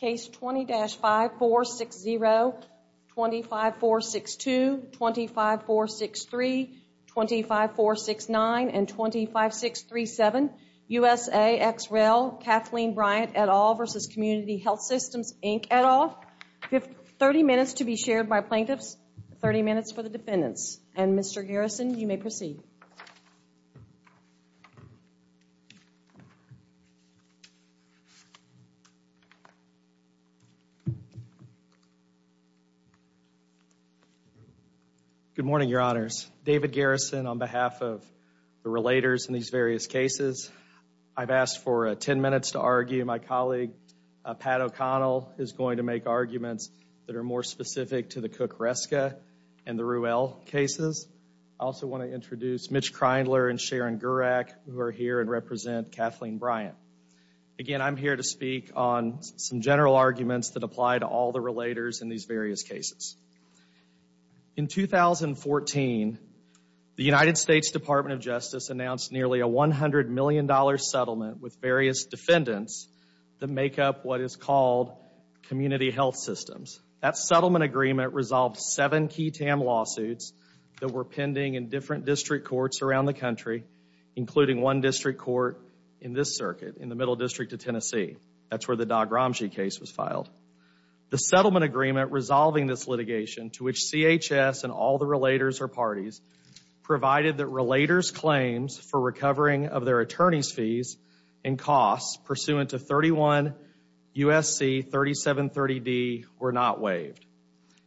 Case 20-5460, 25462, 25463, 25469, and 25637, USA ex rel Kathleen Bryant et al. v. Community Health Systems Inc. et al. 30 minutes to be shared by plaintiffs, 30 minutes for the defendants. And, Mr. Garrison, you may proceed. Good morning, Your Honors. David Garrison on behalf of the relators in these various cases. I've asked for 10 minutes to argue. My colleague, Pat O'Connell, is going to make arguments that are more specific to the Cook-Hreska and the cases. I also want to introduce Mitch Kreindler and Sharon Gurak, who are here and represent Kathleen Bryant. Again, I'm here to speak on some general arguments that apply to all the relators in these various cases. In 2014, the United States Department of Justice announced nearly a $100 million settlement with various defendants that make up what is called community health systems. That settlement agreement resolved seven key TAM lawsuits that were pending in different district courts around the country, including one district court in this circuit, in the Middle District of Tennessee. That's where the Dog-Ramsey case was filed. The settlement agreement resolving this litigation, to which CHS and all the relators are parties, provided that relators' claims for recovering of their attorney's pursuant to 31 U.S.C. 3730D were not waived.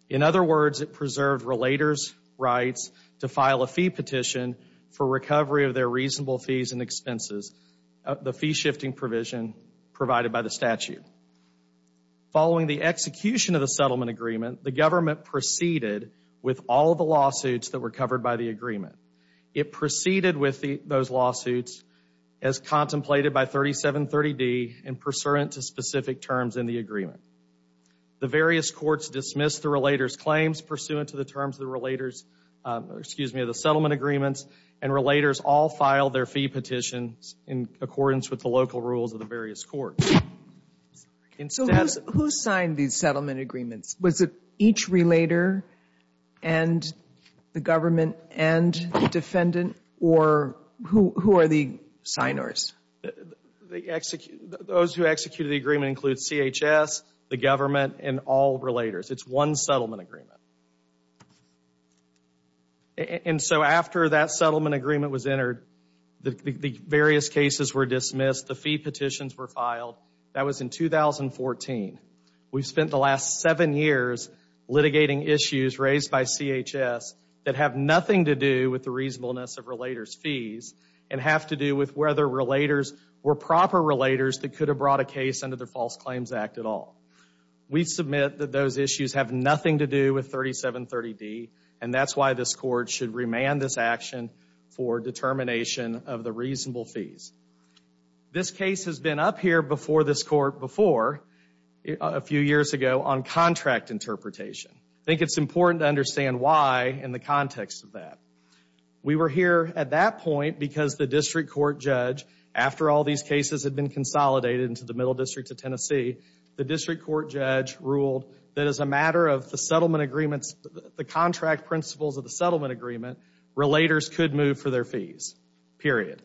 In other words, it preserved relators' rights to file a fee petition for recovery of their reasonable fees and expenses, the fee-shifting provision provided by the statute. Following the execution of the settlement agreement, the government proceeded with all the lawsuits that were covered by the agreement. It proceeded with those lawsuits as contemplated by 3730D and pursuant to specific terms in the agreement. The various courts dismissed the relators' claims pursuant to the terms of the relators' – excuse me, of the settlement agreements, and relators all filed their fee petitions in accordance with the local rules of the various courts. So, who signed these settlement agreements? Was it each relator and the government and the defendant, or who are the signers? Those who executed the agreement include CHS, the government, and all relators. It's one settlement agreement. And so, after that settlement agreement was entered, the various cases were dismissed, the fee petitions were filed. That was in 2014. We've spent the last seven years litigating issues raised by CHS that have nothing to do with the reasonableness of relators' fees and have to do with whether relators were proper relators that could have brought a case under the False Claims Act at all. We submit that those issues have nothing to do with 3730D, and that's why this Court should remand this action for determination of the reasonable fees. This case has been up here before this Court before, a few years ago, on contract interpretation. I think it's important to understand why in the context of that. We were here at that point because the district court judge, after all these cases had been consolidated into the Middle District of Tennessee, the district court judge ruled that as a matter of the settlement agreements, the contract principles of the settlement agreement, relators could move for their fees, period.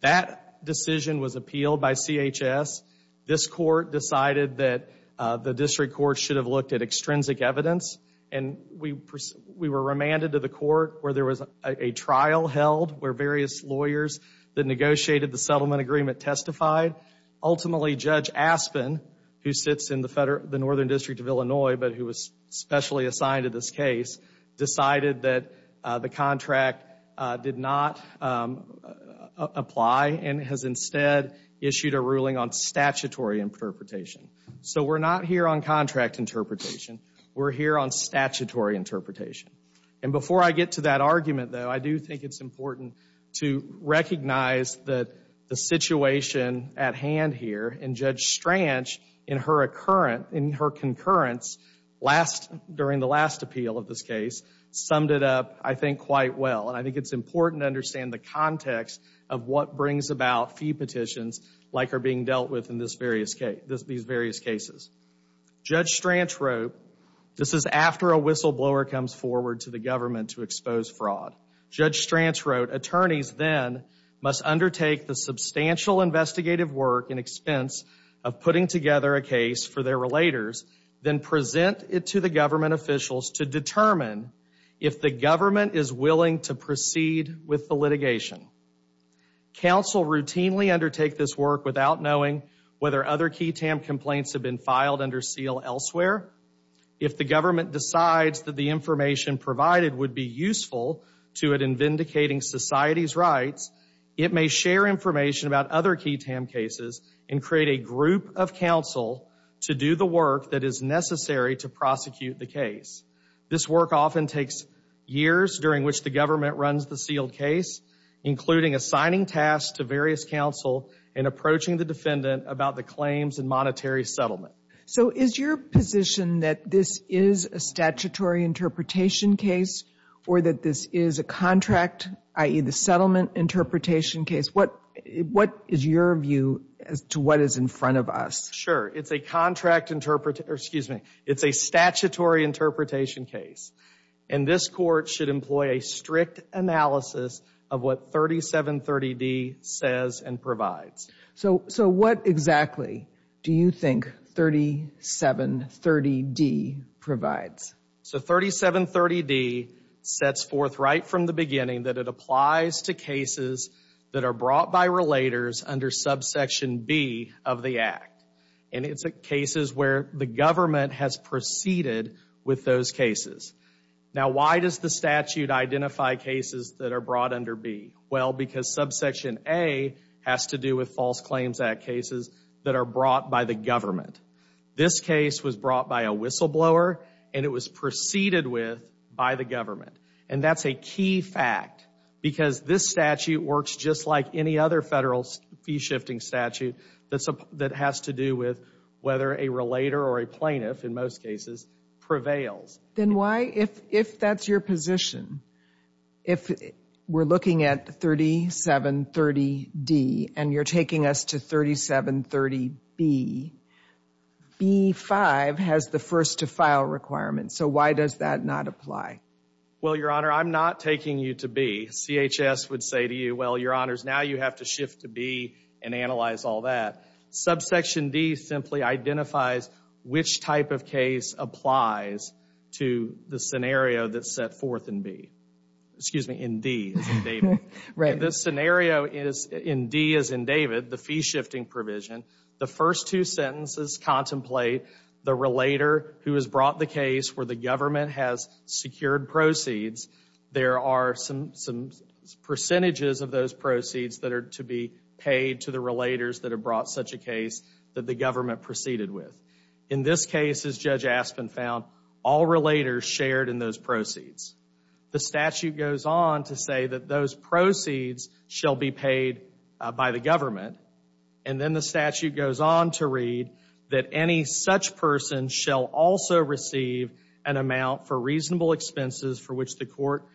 That decision was appealed by CHS. This Court decided that the district court should have looked at extrinsic evidence, and we were remanded to the Court where there was a trial held where various lawyers that negotiated the settlement agreement testified. Ultimately, Judge Aspen, who sits in the Northern District of Illinois but who is specially assigned to this case, decided that the contract did not apply and has instead issued a ruling on statutory interpretation. So we're not here on contract interpretation. We're here on statutory interpretation. And before I get to that argument, though, I do think it's important to recognize that the situation at hand here, and Judge Stranch in her concurrence during the last appeal of this case, summed it up, I think, quite well. And I think it's important to understand the context of what brings about fee petitions like are being dealt with in these various cases. Judge Stranch wrote, this is after a whistleblower comes forward to the government to expose fraud. Judge Stranch wrote, attorneys then must undertake the substantial investigative work in expense of putting together a case for their relators, then present it to the government officials to determine if the government is willing to proceed with the litigation. Counsel routinely undertake this work without knowing whether other key TAM complaints have been filed under seal elsewhere. If the government decides that the information provided would be useful to it in vindicating society's rights, it may share information about other key TAM cases and create a group of counsel to do the work that is necessary to prosecute the case. This work often takes years during which the government runs the sealed case, including assigning tasks to various counsel and approaching the defendant about the claims and monetary settlement. So is your position that this is a statutory interpretation case or that this is a contract, i.e. the settlement interpretation case? What is your view as to what is in front of us? Sure. It's a contract, excuse me, it's a statutory interpretation case. And this court should employ a strict analysis of what 3730D says and provides. So what exactly do you think 3730D provides? So 3730D sets forth right from the beginning that it applies to cases that are brought by relators under subsection B of the Act. And it's cases where the government has proceeded with those cases. Now why does the statute identify cases that are brought under B? Well, because subsection A has to do with False Claims Act cases that are brought by the government. This case was brought by a whistleblower and it was proceeded with by the government. And that's a key fact because this statute works just like any other federal fee-shifting statute that has to do with whether a relator or a plaintiff, in most cases, prevails. Then why, if that's your position, if we're looking at 3730D and you're taking us to 3730B, B-5 has the first-to-file requirement. So why does that not apply? Well, Your Honor, I'm not taking you to B. CHS would say to you, well, Your Honors, now you have to shift to B and analyze all that. Subsection D simply identifies which type of case applies to the scenario that's set forth in B. Excuse me, in D, as in David. This scenario is in D as in David, the fee-shifting provision. The first two sentences contemplate the relator who has brought the case where the government has secured proceeds. There are some percentages of those proceeds that are to be paid to the relators that have brought such a case that the government proceeded with. In this case, as Judge Aspin found, all relators shared in those proceeds. The statute goes on to say that those proceeds shall be paid by the government, and then the statute goes on to read that any such person shall also receive an amount for reasonable expenses for which the court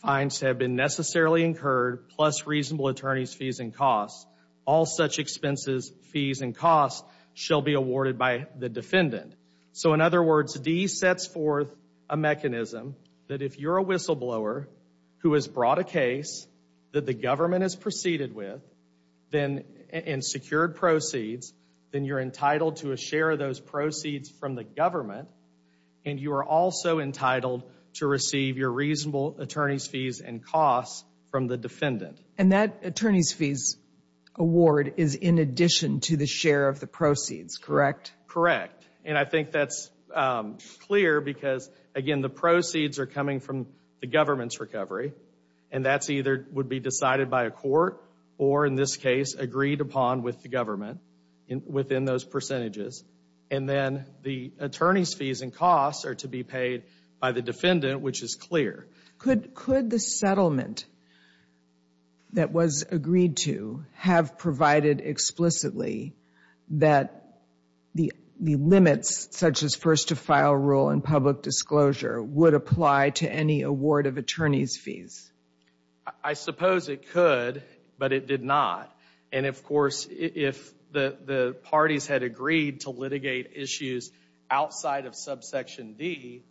finds to have been necessarily incurred, plus reasonable attorney's fees and costs. All such expenses, fees, and costs shall be awarded by the defendant. So in other words, D sets forth a mechanism that if you're a whistleblower who has brought a case that the government has proceeded with then and secured proceeds, then you're entitled to a share of those proceeds from the government, and you are also entitled to receive your reasonable attorney's fees and costs from the defendant. And that attorney's fees award is in addition to the share of the proceeds, correct? Correct. And I think that's clear because, again, the proceeds are coming from the government's recovery and that's either would be decided by a court or, in this case, agreed upon with the government within those percentages, and then the attorney's fees and costs are to be paid by the defendant, which is clear. Could the settlement that was agreed to have provided explicitly that the limits, such as first to file rule and public disclosure, would apply to any award of attorney's fees? I suppose it could, but it did not. And, of course, if the parties had agreed to litigate issues outside of subsection D,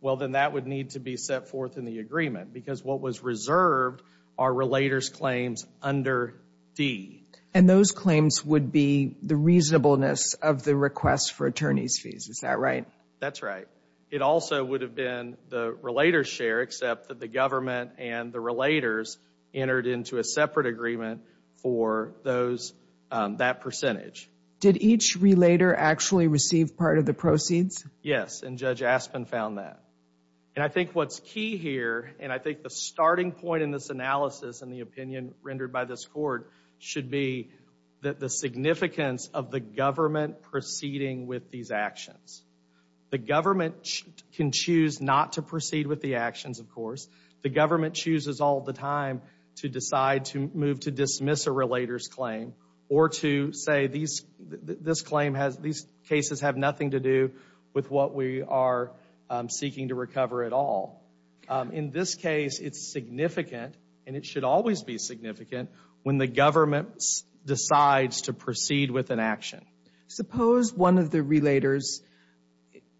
well, then that would need to be set forth in the agreement because what was reserved are relator's claims under D. And those claims would be the reasonableness of the request for attorney's fees, is that right? That's right. It also would have been the relator's share, except that the government and the relators entered into a separate agreement for that percentage. Did each relator actually receive part of the proceeds? Yes, and Judge Aspen found that. And I think what's key here, and I think the starting point in this analysis and the opinion rendered by this court, should be that the significance of the government proceeding with these actions. The government can choose not to proceed with the actions, of course. The government chooses all the time to decide to move to dismiss a relator's claim or to say, these cases have nothing to do with what we are seeking to recover at all. In this case, it's significant, and it should always be significant, when the government decides to proceed with an action. Suppose one of the relators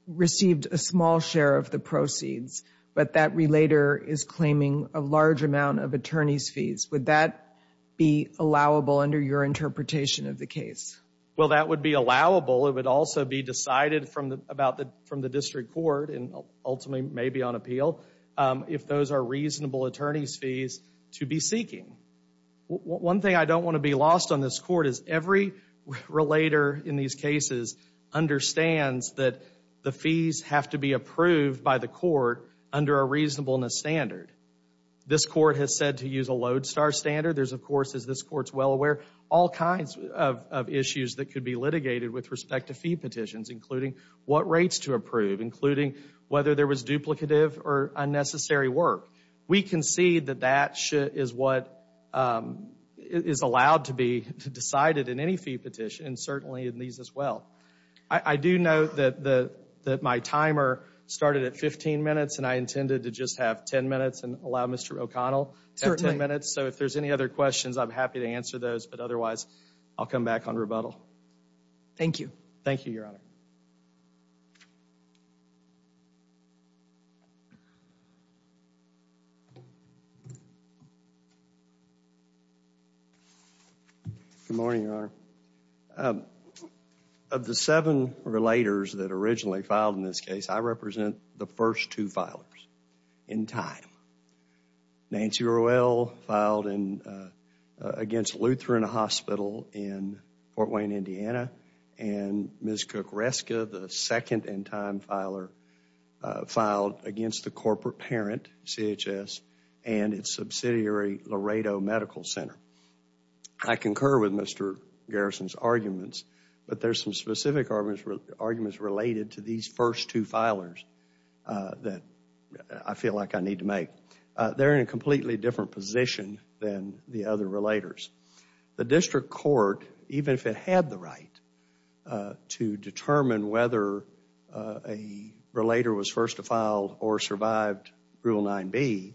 received a small share of the proceeds, but that relator is claiming a large amount of attorney's fees. Would that be allowable under your interpretation of the case? Well, that would be allowable. It would also be decided from the district court, and ultimately maybe on appeal, if those are reasonable attorney's fees to be seeking. One thing I don't want to be lost on this court is every relator in these cases understands that the fees have to be approved by the court under a reasonableness standard. This court has said to use a Lodestar standard. There's, of course, as this court's well aware, all kinds of issues that could be litigated with respect to fee petitions, including what rates to approve, including whether there was duplicative or unnecessary work. We concede that that is what is allowed to be decided in any fee petition, and certainly in these as well. I do note that my timer started at 15 minutes, and I intended to just have 10 minutes and allow Mr. O'Connell to have 10 minutes, so if there's any other questions, I'm happy to answer those, but otherwise, I'll come back on rebuttal. Thank you. Good morning, Your Honor. Of the seven relators that originally filed in this case, I represent the first two filers in time. Nancy Rowell filed against Lutheran Hospital in Fort Wayne, Indiana, and Ms. Cook-Reska, the second in time filer, filed against the corporate parent, CHS, and its subsidiary, Laredo Medical Center. I concur with Mr. Garrison's arguments, but there's some specific arguments related to these first two filers that I feel like I need to make. They're in a completely different position than the other relators. The district court, even if it had the right to determine whether a relator was first to file or survived Rule 9b,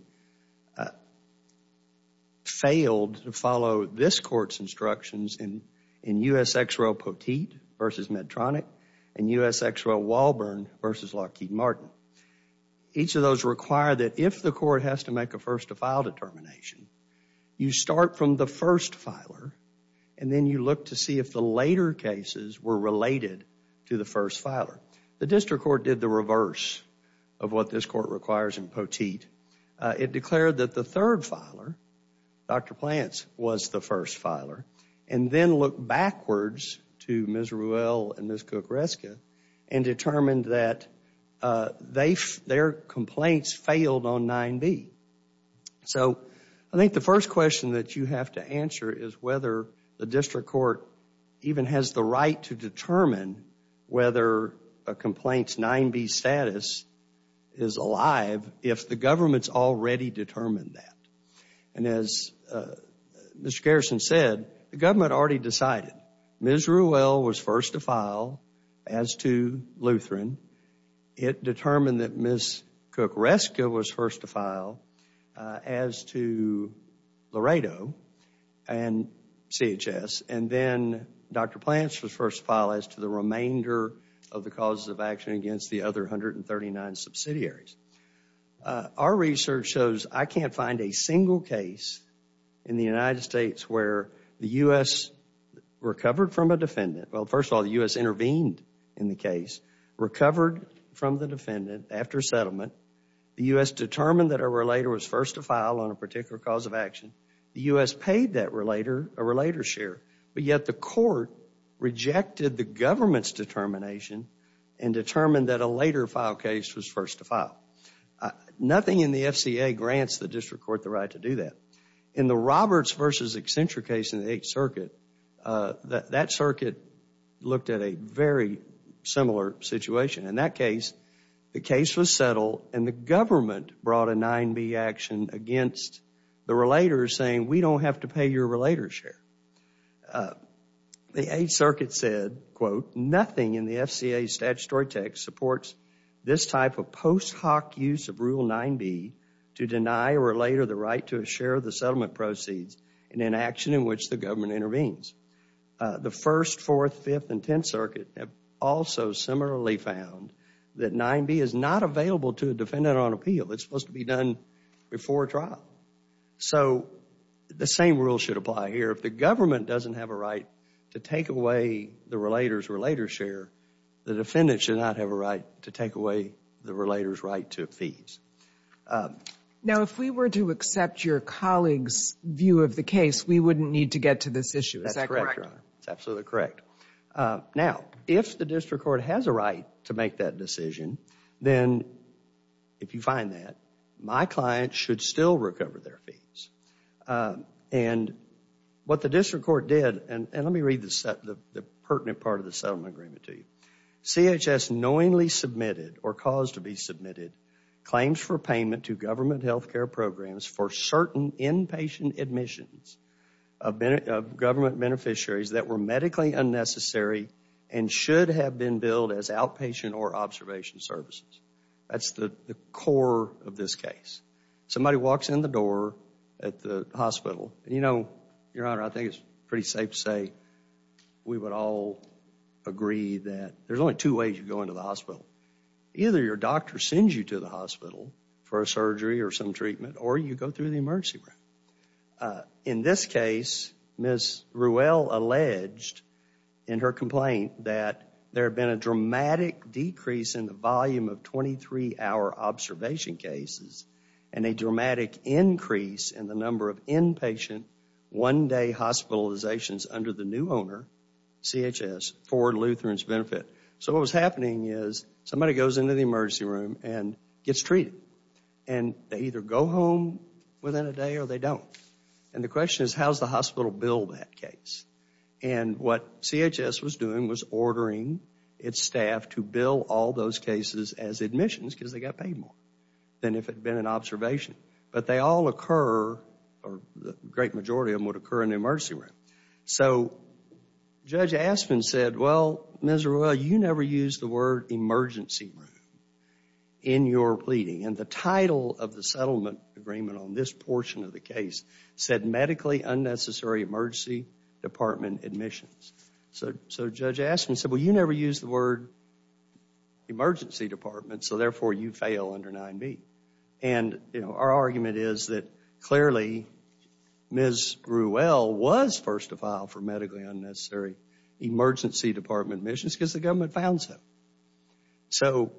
failed to follow this court's instructions in U.S. ex-rel Poteet versus Medtronic and U.S. ex-rel Walburn versus Lockheed Martin. Each of those require that if the court has to make a first to file determination, you start from the first filer, and then you look to see if the later cases were related to the first filer. The district court did the reverse of what this court requires in Poteet. It declared that the third filer, Dr. Plants, was the first filer, and then looked backwards to Ms. Rowell and Ms. Cook-Reska and determined that their complaints failed on 9b. So I think the first question that you have to answer is whether the district court even has the right to determine whether a complaint's 9b status is alive if the government's already determined that. And as Mr. Garrison said, the government already decided Ms. Rowell was first to file as to Laredo and CHS, and then Dr. Plants was first to file as to the remainder of the causes of action against the other 139 subsidiaries. Our research shows I can't find a single case in the United States where the U.S. recovered from a defendant, well, first of all, the U.S. intervened in the case, recovered from the defendant after settlement, the U.S. determined that a relator was first to file on a particular cause of action, the U.S. paid that relator a relator share, but yet the court rejected the government's determination and determined that a later file case was first to file. Nothing in the FCA grants the district court the right to do that. In the Roberts v. Accenture case in the 8th Circuit, that circuit looked at a very similar situation. In that case, the case was settled and the government brought a 9B action against the relator saying we don't have to pay your relator share. The 8th Circuit said, quote, nothing in the FCA's statutory text supports this type of post hoc use of Rule 9B to deny a relator the right to a share of the settlement proceeds in an action in which the government intervenes. The 1st, 4th, 5th, and 10th Circuit have also similarly found that 9B is not available to a defendant on appeal. It's supposed to be done before trial. So the same rule should apply here. If the government doesn't have a right to take away the relator's relator share, the defendant should not have a right to take away the relator's right to fees. Now, if we were to accept your colleague's view of the case, we wouldn't need to get to this issue. Is that correct? That's correct, Your Honor. That's absolutely correct. Now, if the district court has a right to make that decision, then if you find that, my client should still recover their fees. And what the district court did, and let me read the pertinent part of the settlement agreement to you. CHS knowingly submitted or caused to be submitted claims for payment to government health care programs for certain inpatient admissions of government beneficiaries that were medically unnecessary and should have been billed as outpatient or observation services. That's the core of this case. Somebody walks in the door at the hospital, and you know, Your Honor, I think it's pretty safe to say we would all agree that there's only two ways you go into the hospital. Either your doctor sends you to the hospital for a surgery or some treatment, or you go through the emergency room. In this case, Ms. Ruelle alleged in her complaint that there had been a dramatic decrease in the volume of 23-hour observation cases and a dramatic increase in the number of inpatient one-day hospitalizations under the new owner, CHS, for Lutheran's benefit. So what was happening is somebody goes into the emergency room and gets treated. And they either go home within a day or they don't. And the question is, how does the hospital bill that case? And what CHS was doing was ordering its staff to bill all those cases as admissions because they got paid more than if it had been an observation. But they all occur, or the great majority of them would occur in the emergency room. So Judge Aspin said, well, Ms. Ruelle, you never used the word emergency room in your pleading. And the title of the settlement agreement on this portion of the case said medically unnecessary emergency department admissions. So Judge Aspin said, well, you never used the word emergency department, so therefore you fail under 9B. And our argument is that clearly Ms. Ruelle was first to file for medically unnecessary emergency department admissions because the government found so. So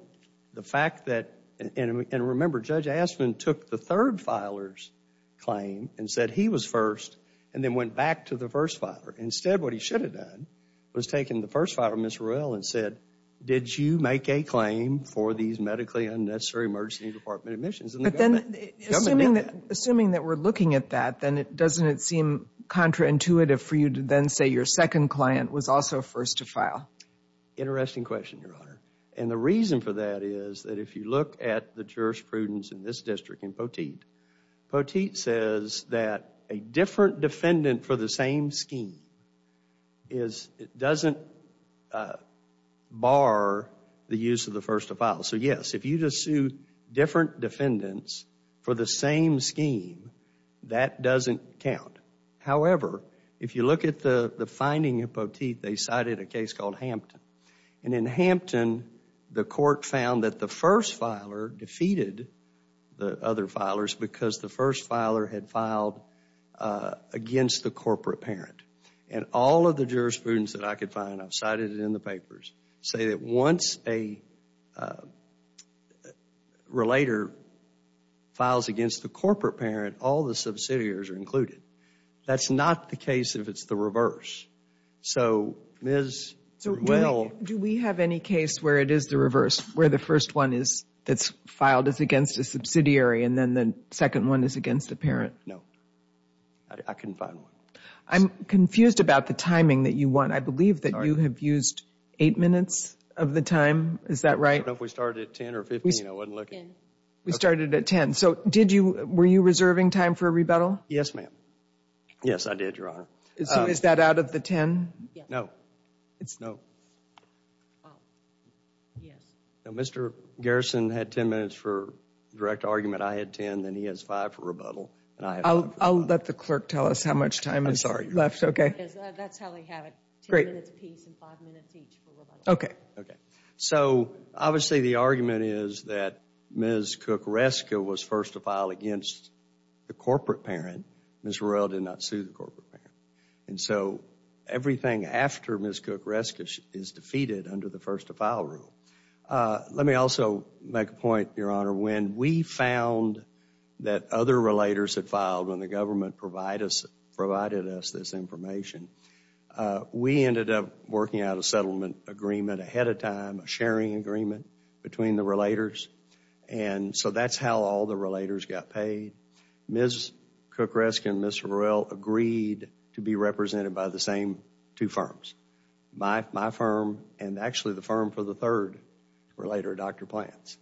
the fact that, and remember, Judge Aspin took the third filer's claim and said he was first and then went back to the first filer. Instead what he should have done was taken the first filer, Ms. Ruelle, and said, did you make a claim for these medically unnecessary emergency department admissions? And the government did that. But then assuming that we're looking at that, then doesn't it seem contraintuitive for you to then say your second client was also first to file? Interesting question, Your Honor. And the reason for that is that if you look at the jurisprudence in this district in Poteet, Poteet says that a different defendant for the same scheme doesn't bar the use of the first to file. So yes, if you just sue different defendants for the same scheme, that doesn't count. However, if you look at the finding of Poteet, they cited a case called Hampton. And in Hampton, the court found that the first filer defeated the other filers because the first filer had filed against the corporate parent. And all of the jurisprudence that I could find, I've cited it in the papers, say that once a relator files against the corporate parent, all the subsidiaries are included. That's not the case if it's the reverse. So, Ms. Ruell. Do we have any case where it is the reverse? Where the first one that's filed is against a subsidiary and then the second one is against a parent? No. I couldn't find one. I'm confused about the timing that you want. I believe that you have used eight minutes of the time. Is that right? I don't know if we started at 10 or 15. I wasn't looking. 10. We started at 10. So, were you reserving time for a rebuttal? Yes, ma'am. Yes, I did, Your Honor. So, is that out of the 10? No. It's no. Oh. Yes. Now, Mr. Garrison had 10 minutes for direct argument. I had 10. Then he has five for rebuttal. And I have five for rebuttal. I'll let the clerk tell us how much time is left. I'm sorry. Okay. That's how we have it. Great. 10 minutes apiece and five minutes each for rebuttal. Okay. Okay. So, obviously, the argument is that Ms. Cook-Reska was first to file against the corporate parent. Ms. Rorell did not sue the corporate parent. And so, everything after Ms. Cook-Reska is defeated under the first to file rule. Let me also make a point, Your Honor. When we found that other relators had filed when the government provided us this information, we ended up working out a settlement agreement ahead of time, a sharing agreement between the relators. And so, that's how all the relators got paid. Ms. Cook-Reska and Ms. Rorell agreed to be represented by the same two firms, my firm and actually the firm for the third relator, Dr. Plants,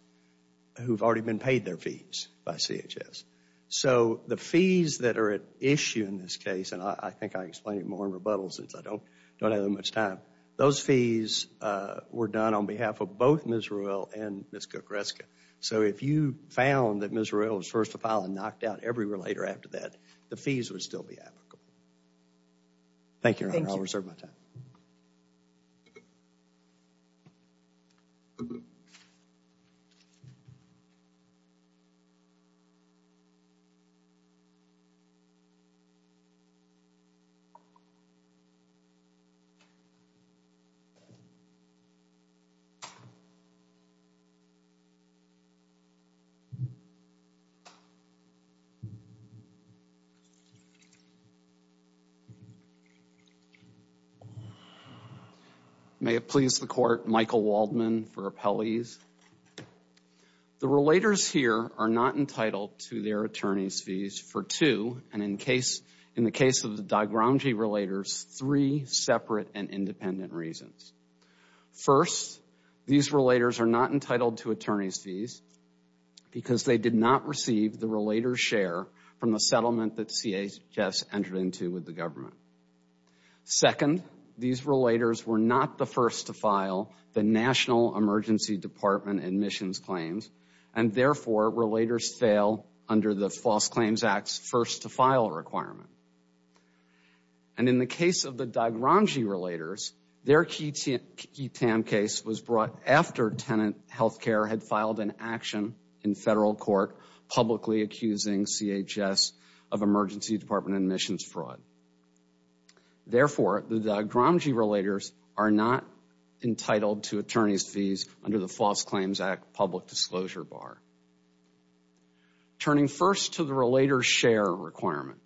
who've already been paid their fees by CHS. So, the fees that are at issue in this case, and I think I explained it more in rebuttal since I don't have that much time, those fees were done on behalf of both Ms. Rorell and Ms. Cook-Reska. So, if you found that Ms. Rorell was first to file and knocked out every relator after that, the fees would still be applicable. Thank you, Your Honor. I'll reserve my time. May it please the Court, Michael Waldman for appellees. The relators here are not entitled to their attorney's fees for two, and in the case of the DiGrange relators, three separate and independent reasons. First, these relators are not entitled to attorney's fees because they did not receive the relator's share from the settlement that CHS entered into with the government. Second, these relators were not the first to file the National Emergency Department admissions claims, and therefore, relators fail under the False Claims Act's first to file requirement. And in the case of the DiGrange relators, their key TAM case was brought after Tenant Health Care had filed an action in federal court publicly accusing CHS of Emergency Department admissions fraud. Therefore, the DiGrange relators are not entitled to attorney's fees under the False Claims Act public disclosure bar. Turning first to the relator's share requirement,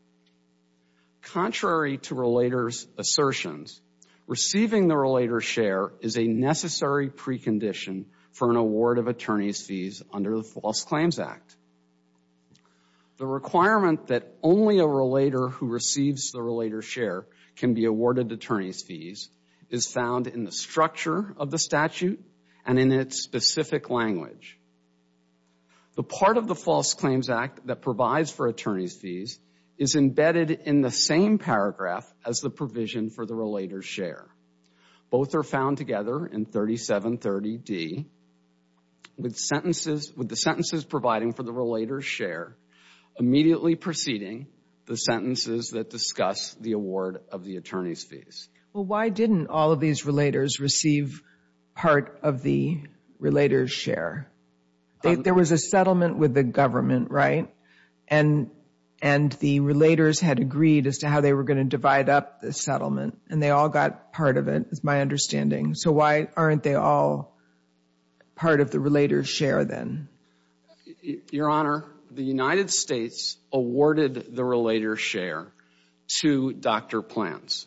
contrary to relator's assertions, receiving the relator's share is a necessary precondition for an award of attorney's fees under the False Claims Act. The requirement that only a relator who receives the relator's share can be awarded attorney's and in its specific language. The part of the False Claims Act that provides for attorney's fees is embedded in the same paragraph as the provision for the relator's share. Both are found together in 3730D with the sentences providing for the relator's share immediately preceding the sentences that discuss the award of the attorney's fees. Well, why didn't all of these relators receive part of the relator's share? There was a settlement with the government, right? And the relators had agreed as to how they were going to divide up the settlement. And they all got part of it, is my understanding. So why aren't they all part of the relator's share then? Your Honor, the United States awarded the relator's share to Dr. Plants.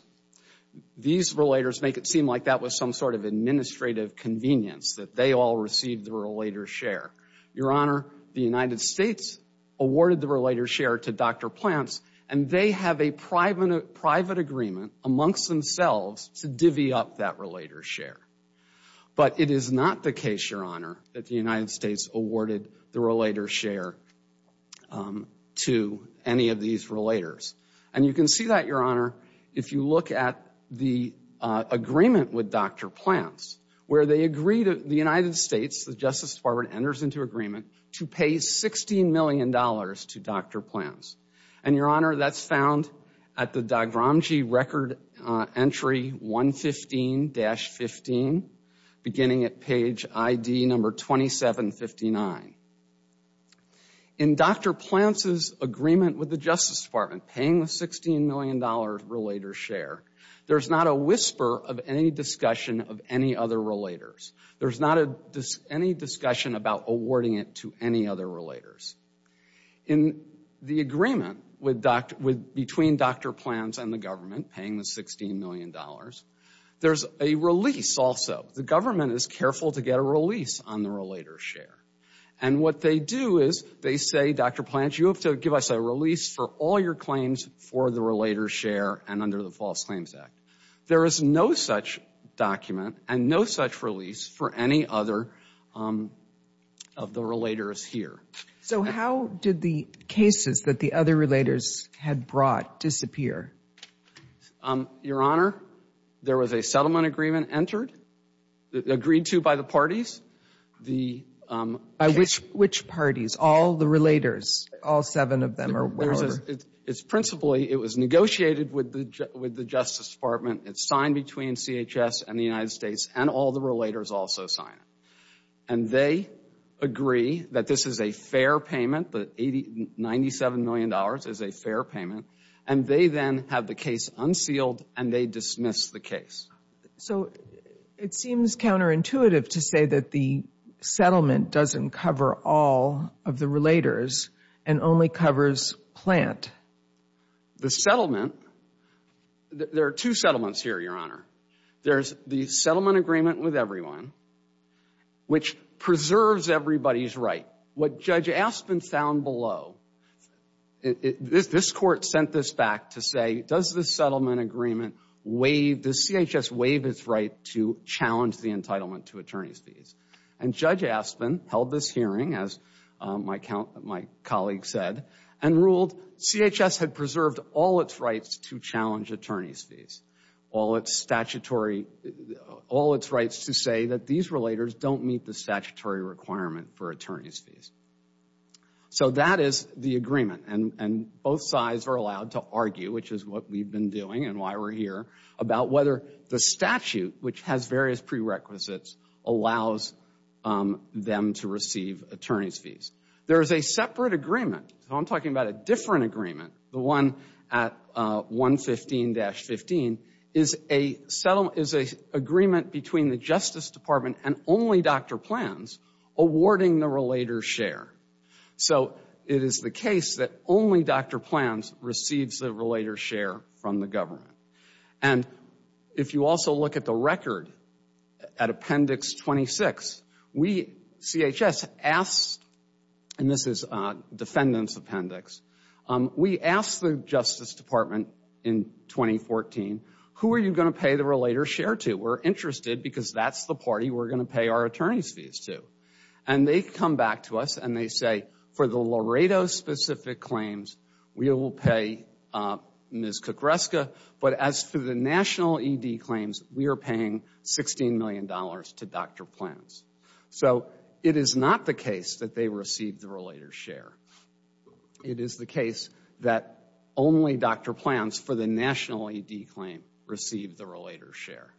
These relators make it seem like that was some sort of administrative convenience that they all received the relator's share. Your Honor, the United States awarded the relator's share to Dr. Plants, and they have a private agreement amongst themselves to divvy up that relator's share. But it is not the case, Your Honor, that the United States awarded the relator's share to any of these relators. And you can see that, Your Honor, if you look at the agreement with Dr. Plants, where they agree to the United States, the Justice Department enters into agreement, to pay $16 million to Dr. Plants. And, Your Honor, that's found at the Dagramji record entry 115-15, beginning at page ID number 2759. In Dr. Plants' agreement with the Justice Department, paying the $16 million relator's share, there's not a whisper of any discussion of any other relators. There's not any discussion about awarding it to any other relators. In the agreement between Dr. Plants and the government, paying the $16 million, there's a release also. The government is careful to get a release on the relator's share. And what they do is they say, Dr. Plants, you have to give us a release for all your claims for the relator's share and under the False Claims Act. There is no such document and no such release for any other of the relators here. So how did the cases that the other relators had brought disappear? Your Honor, there was a settlement agreement entered, agreed to by the parties. By which parties? All the relators, all seven of them or whatever? It's principally, it was negotiated with the Justice Department. It's signed between CHS and the United States and all the relators also sign it. And they agree that this is a fair payment, that $97 million is a fair payment. And they then have the case unsealed and they dismiss the case. So it seems counterintuitive to say that the settlement doesn't cover all of the relators and only covers Plant. The settlement, there are two settlements here, Your Honor. There's the settlement agreement with everyone, which preserves everybody's right. What Judge Aspin found below, this court sent this back to say, does the settlement agreement waive, does CHS waive its right to challenge the entitlement to attorney's fees? And Judge Aspin held this hearing, as my colleague said, and ruled CHS had preserved all its rights to challenge attorney's fees. All its statutory, all its rights to say that these relators don't meet the statutory requirement for attorney's fees. So that is the agreement and both sides are allowed to argue, which is what we've been doing and why we're here, about whether the statute, which has various prerequisites, allows them to receive attorney's fees. There is a separate agreement, so I'm talking about a different agreement, the one at 115-15, is a settlement, is an agreement between the Justice Department and only Dr. Plans awarding the relator's share. So it is the case that only Dr. Plans receives the relator's share from the government. And if you also look at the record, at Appendix 26, we, CHS, asked, and this is defendant's appendix, we asked the Justice Department in 2014, who are you going to pay the relator's share to? We're interested because that's the party we're going to pay our attorney's fees to. And they come back to us and they say, for the Laredo-specific claims, we will pay Ms. Kukreska, but as for the national ED claims, we are paying $16 million to Dr. Plans. So it is not the case that they received the relator's share. It is the case that only Dr. Plans for the national ED claim received the relator's share.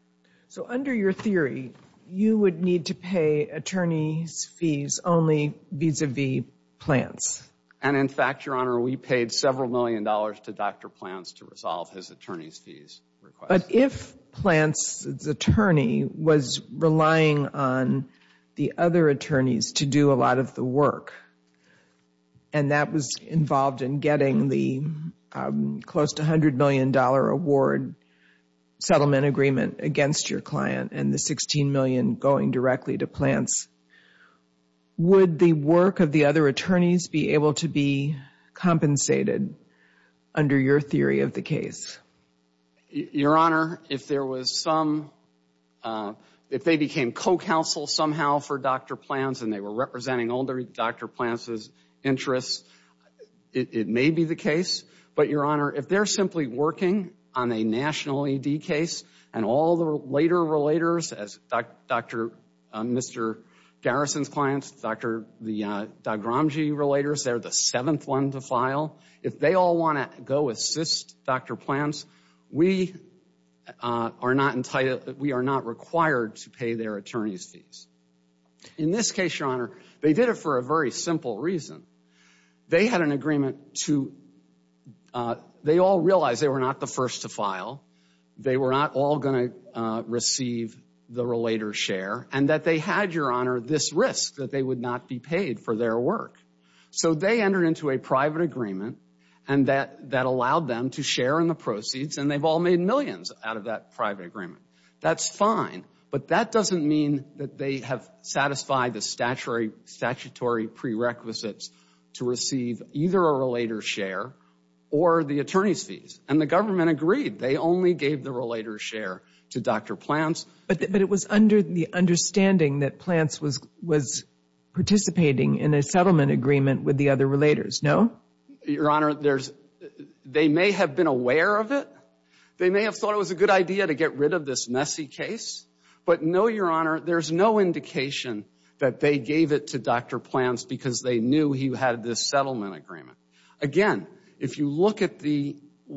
So under your theory, you would need to pay attorney's fees only vis-a-vis Plans. And in fact, Your Honor, we paid several million dollars to Dr. Plans to resolve his attorney's fees request. But if Plans' attorney was relying on the other attorneys to do a lot of the work, and that was involved in getting the close to $100 million award settlement agreement against your client and the $16 million going directly to Plans, would the work of the other attorneys be able to be compensated under your theory of the case? Your Honor, if there was some, if they became co-counsel somehow for Dr. Plans and they were representing all Dr. Plans' interests, it may be the case. But Your Honor, if they're simply working on a national ED case and all the later relators, as Mr. Garrison's clients, Dr. Gramsci relators, they're the seventh one to file. If they all want to go assist Dr. Plans, we are not entitled, we are not required to pay their attorney's fees. In this case, Your Honor, they did it for a very simple reason. They had an agreement to, they all realized they were not the first to file. They were not all going to receive the relator's share. And that they had, Your Honor, this risk that they would not be paid for their work. So they entered into a private agreement and that allowed them to share in the proceeds and they've all made millions out of that private agreement. That's fine. But that doesn't mean that they have satisfied the statutory prerequisites to receive either a relator's share or the attorney's fees. And the government agreed. They only gave the relator's share to Dr. Plans. But it was under the understanding that Plans was participating in a settlement agreement with the other relators, no? Your Honor, there's, they may have been aware of it. They may have thought it was a good idea to get rid of this messy case. But no, Your Honor, there's no indication that they gave it to Dr. Plans because they knew he had this settlement agreement. Again, if you look at the,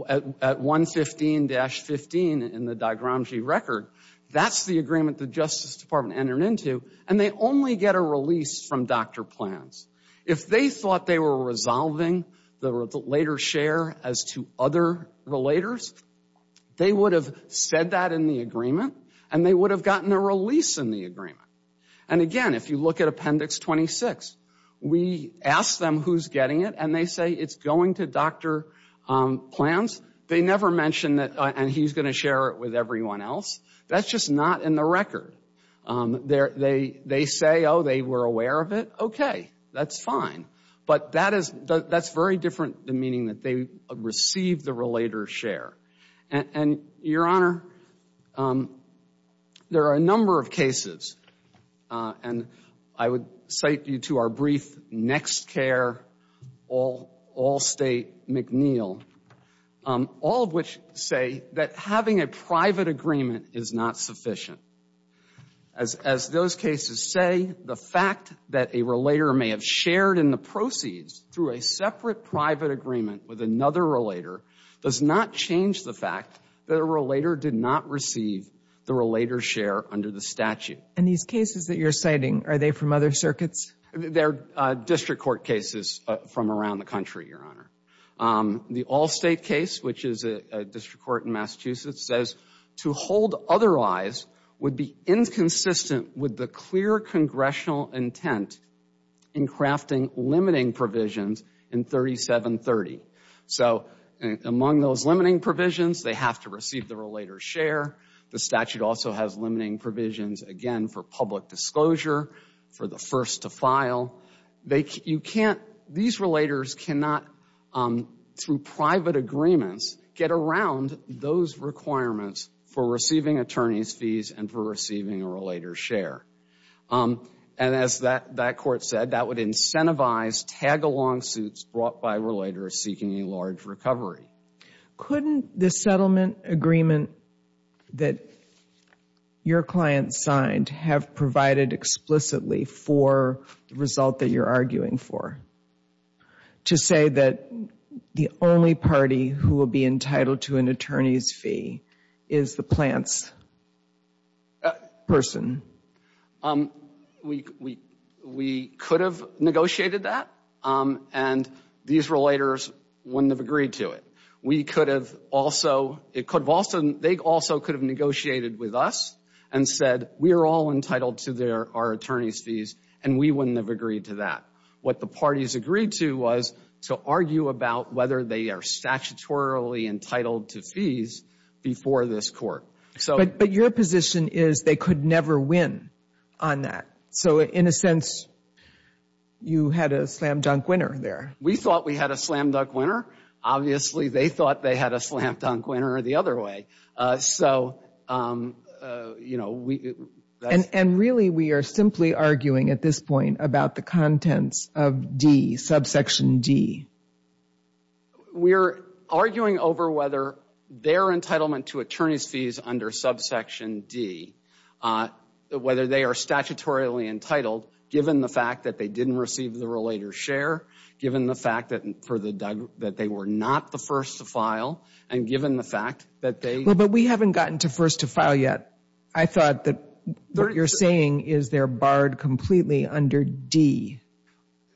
at 115-15 in the Dr. Gramsci record, that's the agreement the Justice Department entered into. And they only get a release from Dr. Plans. If they thought they were resolving the later share as to other relators, they would have said that in the agreement and they would have gotten a release in the agreement. And again, if you look at Appendix 26, we ask them who's getting it and they say it's going to Dr. Plans. They never mention that, and he's going to share it with everyone else. That's just not in the record. They say, oh, they were aware of it, okay, that's fine. But that is, that's very different than meaning that they received the relator's share. And, Your Honor, there are a number of cases, and I would cite you to our brief, NextCare, Allstate, McNeil, all of which say that having a private agreement is not sufficient. As those cases say, the fact that a relator may have shared in the proceeds through a separate private agreement with another relator does not change the fact that a relator did not receive the relator's share under the statute. And these cases that you're citing, are they from other circuits? They're district court cases from around the country, Your Honor. The Allstate case, which is a district court in Massachusetts, says, to hold otherwise would be inconsistent with the clear congressional intent in crafting limiting provisions in 3730. So, among those limiting provisions, they have to receive the relator's share. The statute also has limiting provisions, again, for public disclosure, for the first to file. You can't, these relators cannot, through private agreements, get around those requirements for receiving attorney's fees and for receiving a relator's share. And as that court said, that would incentivize tag-along suits brought by relators seeking a large recovery. Couldn't the settlement agreement that your client signed have provided explicitly for the result that you're arguing for? To say that the only party who will be entitled to an attorney's fee is the plant's person? We could have negotiated that, and these relators wouldn't have agreed to it. We could have also, it could have also, they also could have negotiated with us and said, we are all entitled to our attorney's fees, and we wouldn't have agreed to that. What the parties agreed to was to argue about whether they are statutorily entitled to fees before this court. But your position is they could never win on that. So in a sense, you had a slam-dunk winner there. We thought we had a slam-dunk winner. Obviously, they thought they had a slam-dunk winner the other way. So, you know, we. And really, we are simply arguing at this point about the contents of D, subsection D. We're arguing over whether their entitlement to attorney's fees under subsection D, whether they are statutorily entitled, given the fact that they didn't receive the relator's share, given the fact that they were not the first to file, and given the fact that they. But we haven't gotten to first to file yet. I thought that what you're saying is they're barred completely under D.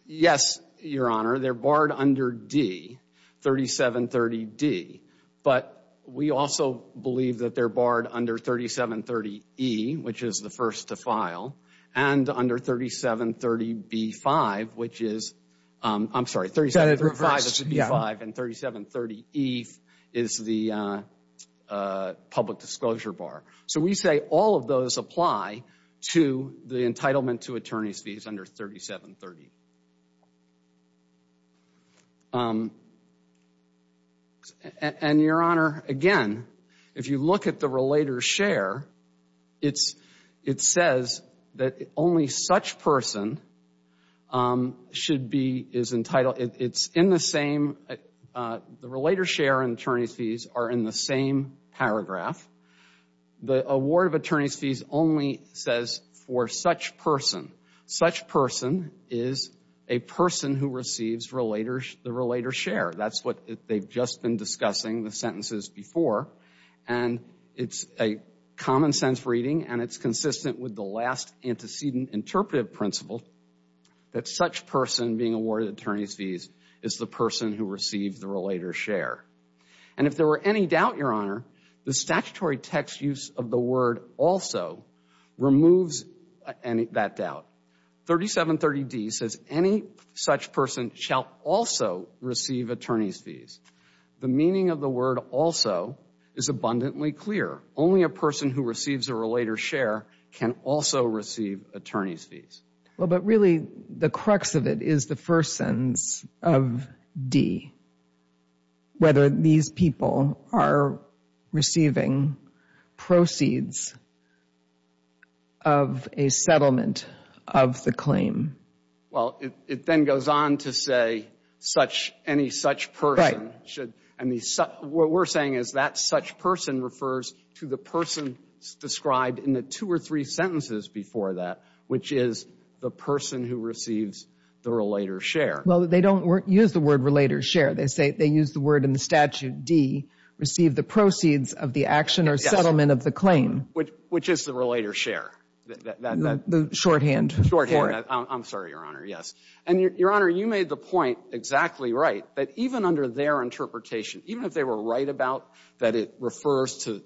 Yes, Your Honor. They're barred under D, 3730D. But we also believe that they're barred under 3730E, which is the first to file, and under 3730B-5, which is, I'm sorry, 3730B-5 and 3730E is the public disclosure bar. So we say all of those apply to the entitlement to attorney's fees under 3730. And, Your Honor, again, if you look at the relator's share, it says that only such person should be, is entitled. It's in the same, the relator's share and attorney's fees are in the same paragraph. The award of attorney's fees only says for such person. Such person is a person who receives relator's, the relator's share. That's what they've just been discussing, the sentences before, and it's a common sense reading, and it's consistent with the last antecedent interpretive principle that such person being awarded attorney's fees is the person who received the relator's share. And if there were any doubt, Your Honor, the statutory text use of the word also removes that doubt. 3730D says any such person shall also receive attorney's fees. The meaning of the word also is abundantly clear. Only a person who receives a relator's share can also receive attorney's fees. Well, but really the crux of it is the first sentence of D. Whether these people are receiving proceeds of a settlement of the claim. Well, it then goes on to say such, any such person should, and what we're saying is that such person refers to the person described in the two or three sentences before that, which is the person who receives the relator's share. Well, they don't use the word relator's share. They say they use the word in the statute D, receive the proceeds of the action or settlement of the claim. Which is the relator's share. The shorthand. The shorthand, I'm sorry, Your Honor. Yes. And Your Honor, you made the point exactly right, that even under their interpretation, even if they were right about that, it refers to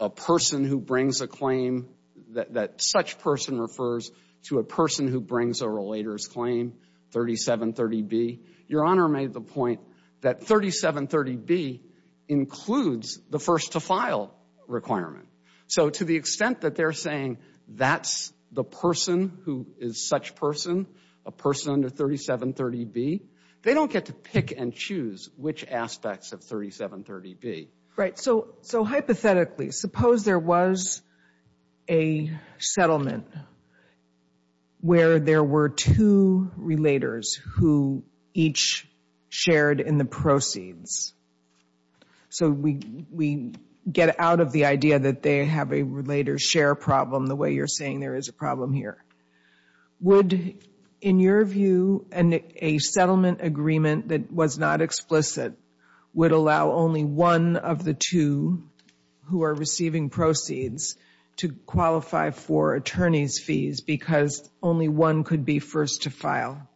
a person who brings a claim that such person refers to a person who brings a relator's claim, 3730B. Your Honor made the point that 3730B includes the first to file requirement. So to the extent that they're saying that's the person who is such person, a person under 3730B, they don't get to pick and choose which aspects of 3730B. Right. So hypothetically, suppose there was a settlement where there were two relators who each shared in the proceeds. So we get out of the idea that they have a relator's share problem the way you're saying there is a problem here. Would, in your view, a settlement agreement that was not explicit, would allow only one of the two who are receiving proceeds to qualify for attorney's fees because only one could be first to file?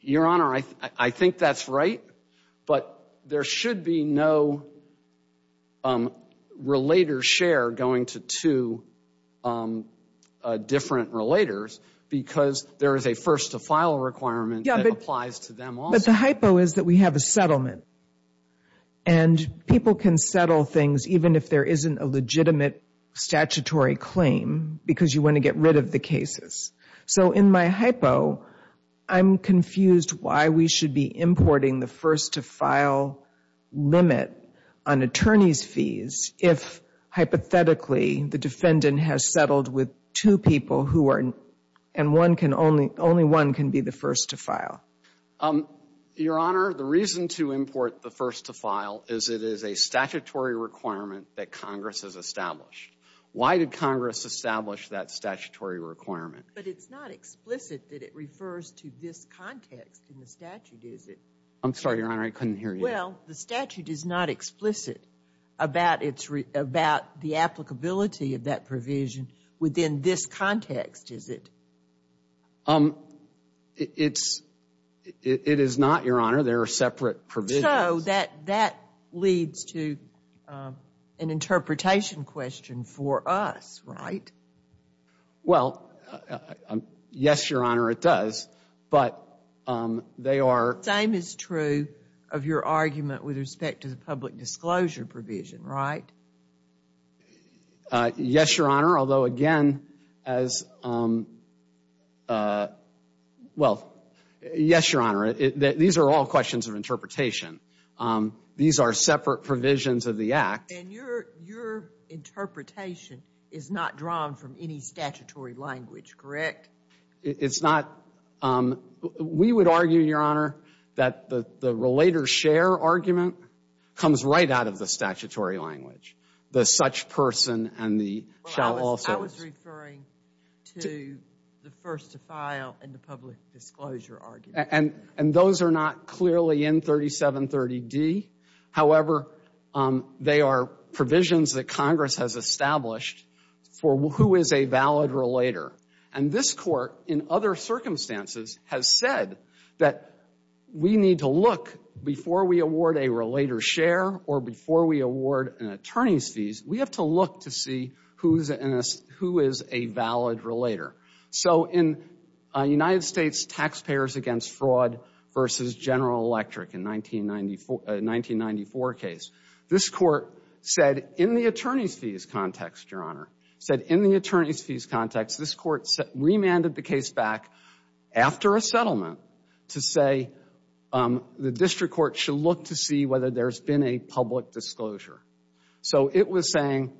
Your Honor, I think that's right, but there should be no relator's share going to two different relators because there is a first to file requirement that applies to them also. But the hypo is that we have a settlement and people can settle things even if there isn't a legitimate statutory claim because you want to get rid of the cases. So in my hypo, I'm confused why we should be importing the first to file limit on attorney's fees if, hypothetically, the defendant has settled with two people who are, and one can only, only one can be the first to file. Your Honor, the reason to import the first to file is it is a statutory requirement that Congress has established. Why did Congress establish that statutory requirement? But it's not explicit that it refers to this context in the statute, is it? I'm sorry, Your Honor, I couldn't hear you. Well, the statute is not explicit about the applicability of that provision within this context, is it? It is not, Your Honor. There are separate provisions. So that leads to an interpretation question for us, right? Well, yes, Your Honor, it does, but they are... Same is true of your argument with respect to the public disclosure provision, right? Yes, Your Honor, although, again, as, well, yes, Your Honor, these are all questions of interpretation. And your interpretation is not drawn from any statutory language, correct? It's not. We would argue, Your Honor, that the relator share argument comes right out of the statutory language, the such person and the shall also. I was referring to the first to file and the public disclosure argument. And those are not clearly in 3730D. However, they are provisions that Congress has established for who is a valid relator. And this court, in other circumstances, has said that we need to look before we award a relator share or before we award an attorney's fees, we have to look to see who is a valid relator. So in United States Taxpayers Against Fraud versus General Electric in 1994 case, this court said in the attorney's fees context, Your Honor, said in the attorney's fees context, this court remanded the case back after a settlement to say the district court should look to see whether there's been a public disclosure. So it was saying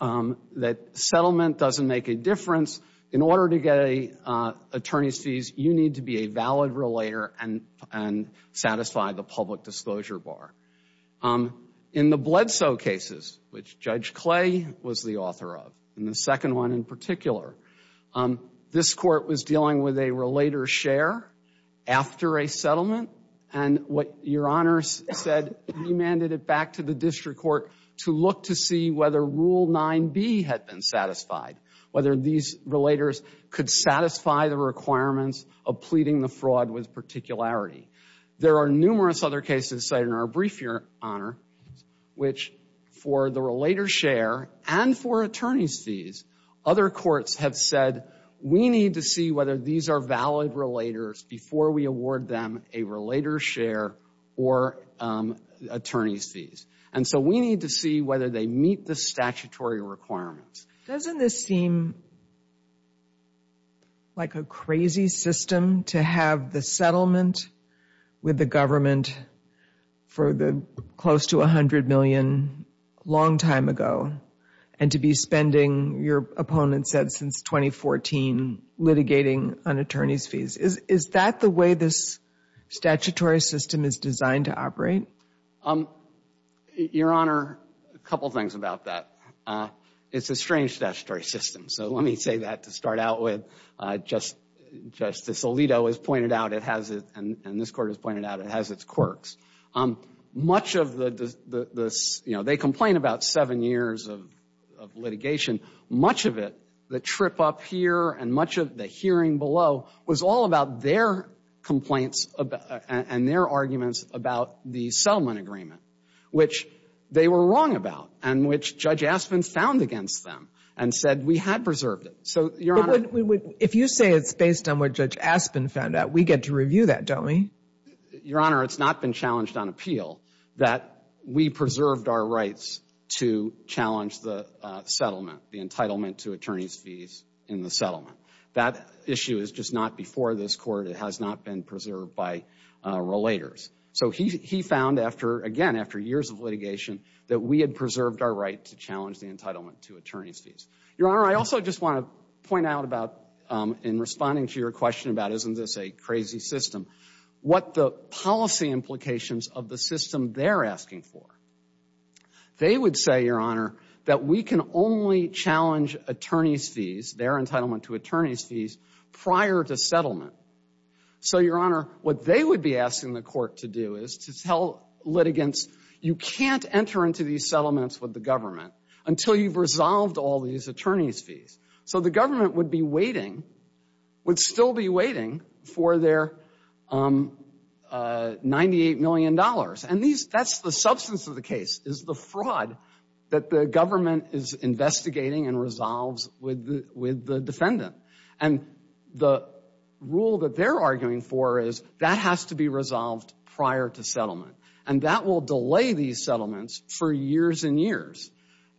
that settlement doesn't make a difference. In order to get an attorney's fees, you need to be a valid relator and satisfy the public disclosure bar. In the Bledsoe cases, which Judge Clay was the author of, and the second one in particular, this court was dealing with a relator share after a settlement. And what Your Honor said, remanded it back to the district court to look to see whether Rule 9B had been satisfied, whether these relators could satisfy the requirements of pleading the fraud with particularity. There are numerous other cases cited in our brief, Your Honor, which for the relator share and for attorney's fees, other courts have said, we need to see whether these are valid relators before we award them a relator share or attorney's fees. And so we need to see whether they meet the statutory requirements. Doesn't this seem like a crazy system to have the settlement with the government for the close to $100 million a long time ago, and to be spending, your opponent said, since 2014, litigating on attorney's fees? Is that the way this statutory system is designed to operate? Your Honor, a couple things about that. It's a strange statutory system. So let me say that to start out with. Justice Alito has pointed out it has it, and this court has pointed out it has its quirks. Much of the, you know, they complain about seven years of litigation. Much of it, the trip up here and much of the hearing below, was all about their complaints and their arguments about the settlement agreement, which they were wrong about, and which Judge Aspin found against them and said, we had preserved it. So, Your Honor. But if you say it's based on what Judge Aspin found out, we get to review that, don't we? Your Honor, it's not been challenged on appeal that we preserved our rights to challenge the settlement, the entitlement to attorney's fees in the settlement. That issue is just not before this court. It has not been preserved by relators. So he found after, again, after years of litigation, that we had preserved our right to challenge the entitlement to attorney's fees. Your Honor, I also just want to point out about, in responding to your question about isn't this a crazy system, what the policy implications of the system they're asking for. They would say, Your Honor, that we can only challenge attorney's fees, their entitlement to attorney's fees, prior to settlement. So, Your Honor, what they would be asking the court to do is to tell litigants, you can't enter into these settlements with the government until you've resolved all these attorney's fees. So the government would be waiting, would still be waiting for their 98 million dollars. And that's the substance of the case, is the fraud that the government is investigating and resolves with the defendant. And the rule that they're arguing for is that has to be resolved prior to settlement. And that will delay these settlements for years and years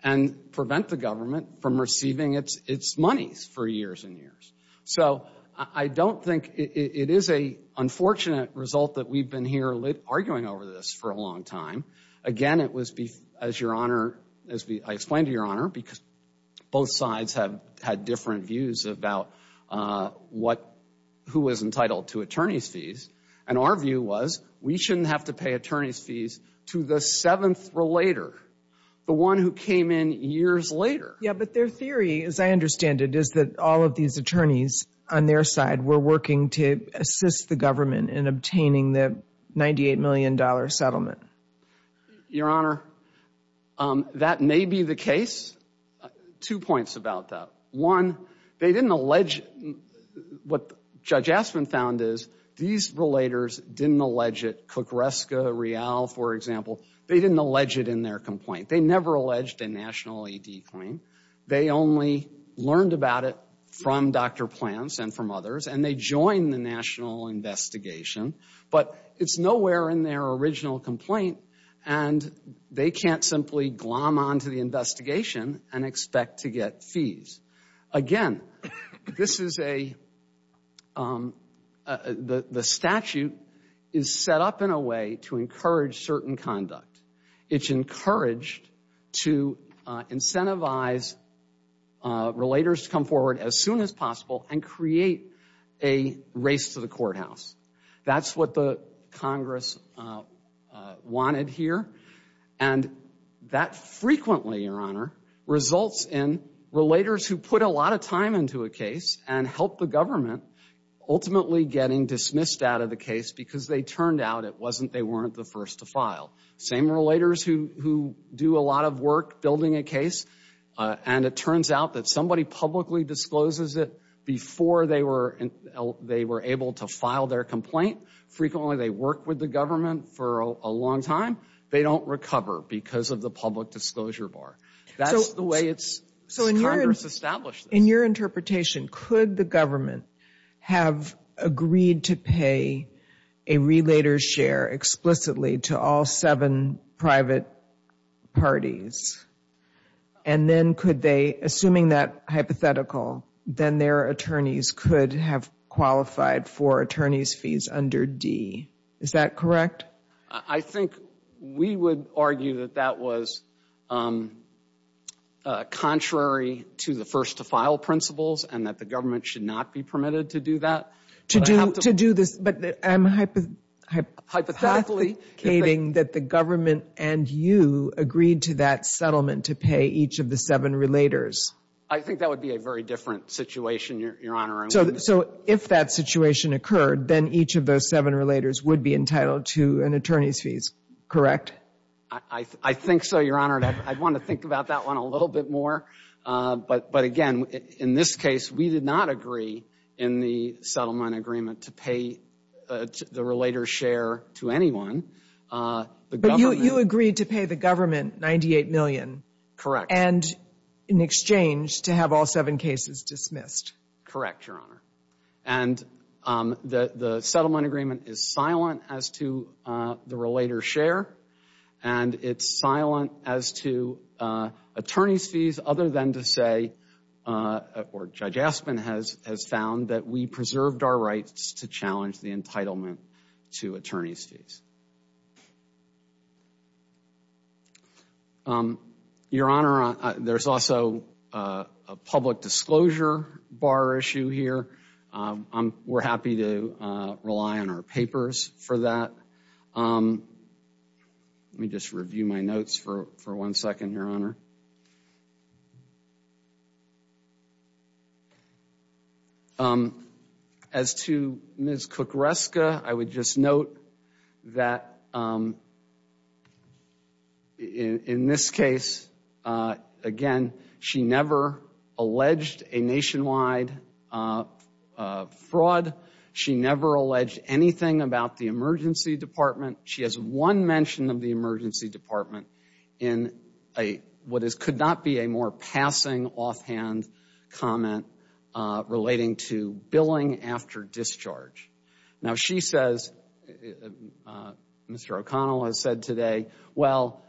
and prevent the government from receiving its monies for years and years. So I don't think, it is an unfortunate result that we've been here arguing over this for a long time. Again, it was, as Your Honor, as I explained to Your Honor, because both sides have had different views about what, who is entitled to attorney's fees. And our view was, we shouldn't have to pay attorney's fees to the seventh relator, the one who came in years later. Yeah, but their theory, as I understand it, is that all of these attorneys on their side were working to assist the government in obtaining the 98 million dollar settlement. Your Honor, that may be the case. Two points about that. One, they didn't allege, what Judge Aspin found is, these relators didn't allege it. They never alleged a national AD claim. They only learned about it from Dr. Plants and from others, and they joined the national investigation. But it's nowhere in their original complaint, and they can't simply glom onto the investigation and expect to get fees. Again, this is a, the statute is set up in a way to encourage certain conduct. It's encouraged to incentivize relators to come forward as soon as possible and create a race to the courthouse. That's what the Congress wanted here. And that frequently, Your Honor, results in relators who put a lot of time into a case and help the government ultimately getting dismissed out of the case because they turned out it wasn't, they weren't the first to file. Same relators who do a lot of work building a case, and it turns out that somebody publicly discloses it before they were able to file their complaint. Frequently, they work with the government for a long time. They don't recover because of the public disclosure bar. That's the way it's, Congress established this. In your interpretation, could the government have agreed to pay a relator's share explicitly to all seven private parties? And then could they, assuming that hypothetical, then their attorneys could have qualified for attorney's fees under D. Is that correct? I think we would argue that that was contrary to the first to file principles and that the government should not be permitted to do that. To do, to do this, but I'm hypothetically stating that the government and you agreed to that settlement to pay each of the seven relators. I think that would be a very different situation, Your Honor. So if that situation occurred, then each of those seven relators would be entitled to an attorney's fees, correct? I think so, Your Honor. I'd want to think about that one a little bit more. But again, in this case, we did not agree in the settlement agreement to pay the relator's share to anyone. But you agreed to pay the government 98 million. Correct. And in exchange to have all seven cases dismissed. Correct, Your Honor. And it's silent as to attorney's fees other than to say, or Judge Aspin has found that we preserved our rights to challenge the entitlement to attorney's fees. Your Honor, there's also a public disclosure bar issue here. We're happy to rely on our papers for that. Let me just review my notes for one second, Your Honor. As to Ms. Kukreska, I would just note that in this case, again, she never alleged a nationwide fraud. She never alleged anything about the emergency department. She has one mention of the emergency department in what could not be a more passing offhand comment relating to billing after discharge. Now, she says, Mr. O'Connell has said today, well,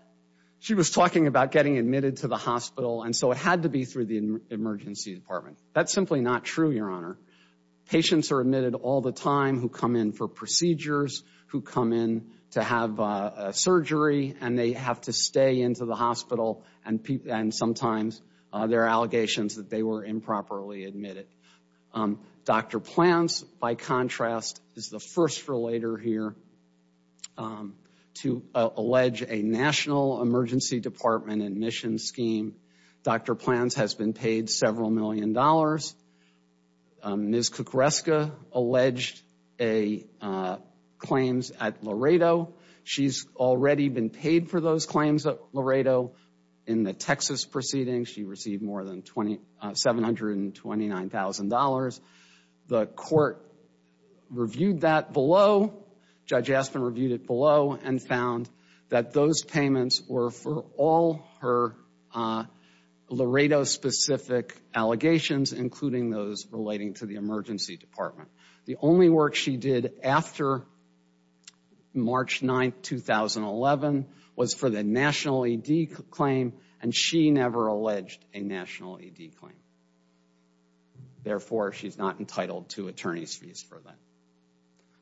she was talking about getting admitted to the hospital, and so it had to be through the emergency department. That's simply not true, Your Honor. Patients are admitted all the time who come in for procedures, who come in to have a surgery, and they have to stay into the hospital, and sometimes there are allegations that they were improperly admitted. Dr. Plants, by contrast, is the first relator here to allege a national emergency department admission scheme. Dr. Plants has been paid several million dollars. Ms. Kukreska alleged claims at Laredo. She's already been paid for those claims at Laredo in the Texas proceedings. She received more than $729,000. The court reviewed that below. Judge Aspin reviewed it below and found that those payments were for all her Laredo-specific allegations, including those relating to the emergency department. The only work she did after March 9, 2011, was for the national ED claim, and she never alleged a national ED claim. Therefore, she's not entitled to attorney's fees for that. I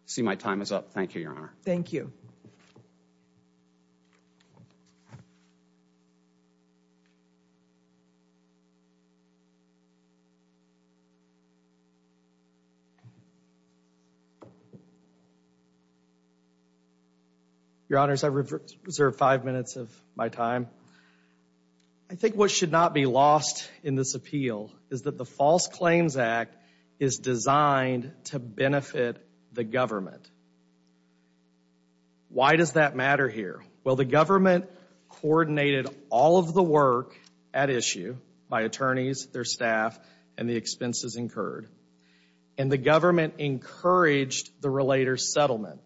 see my time is up. Thank you, Your Honor. Thank you. Your Honor, I reserve five minutes of my time. I think what should not be lost in this appeal is that the False Claims Act is designed to benefit the government. Why does that matter here? Well, the government coordinated all of the work at issue by attorneys, their staff, and the expenses incurred. And the government encouraged the relator's settlement,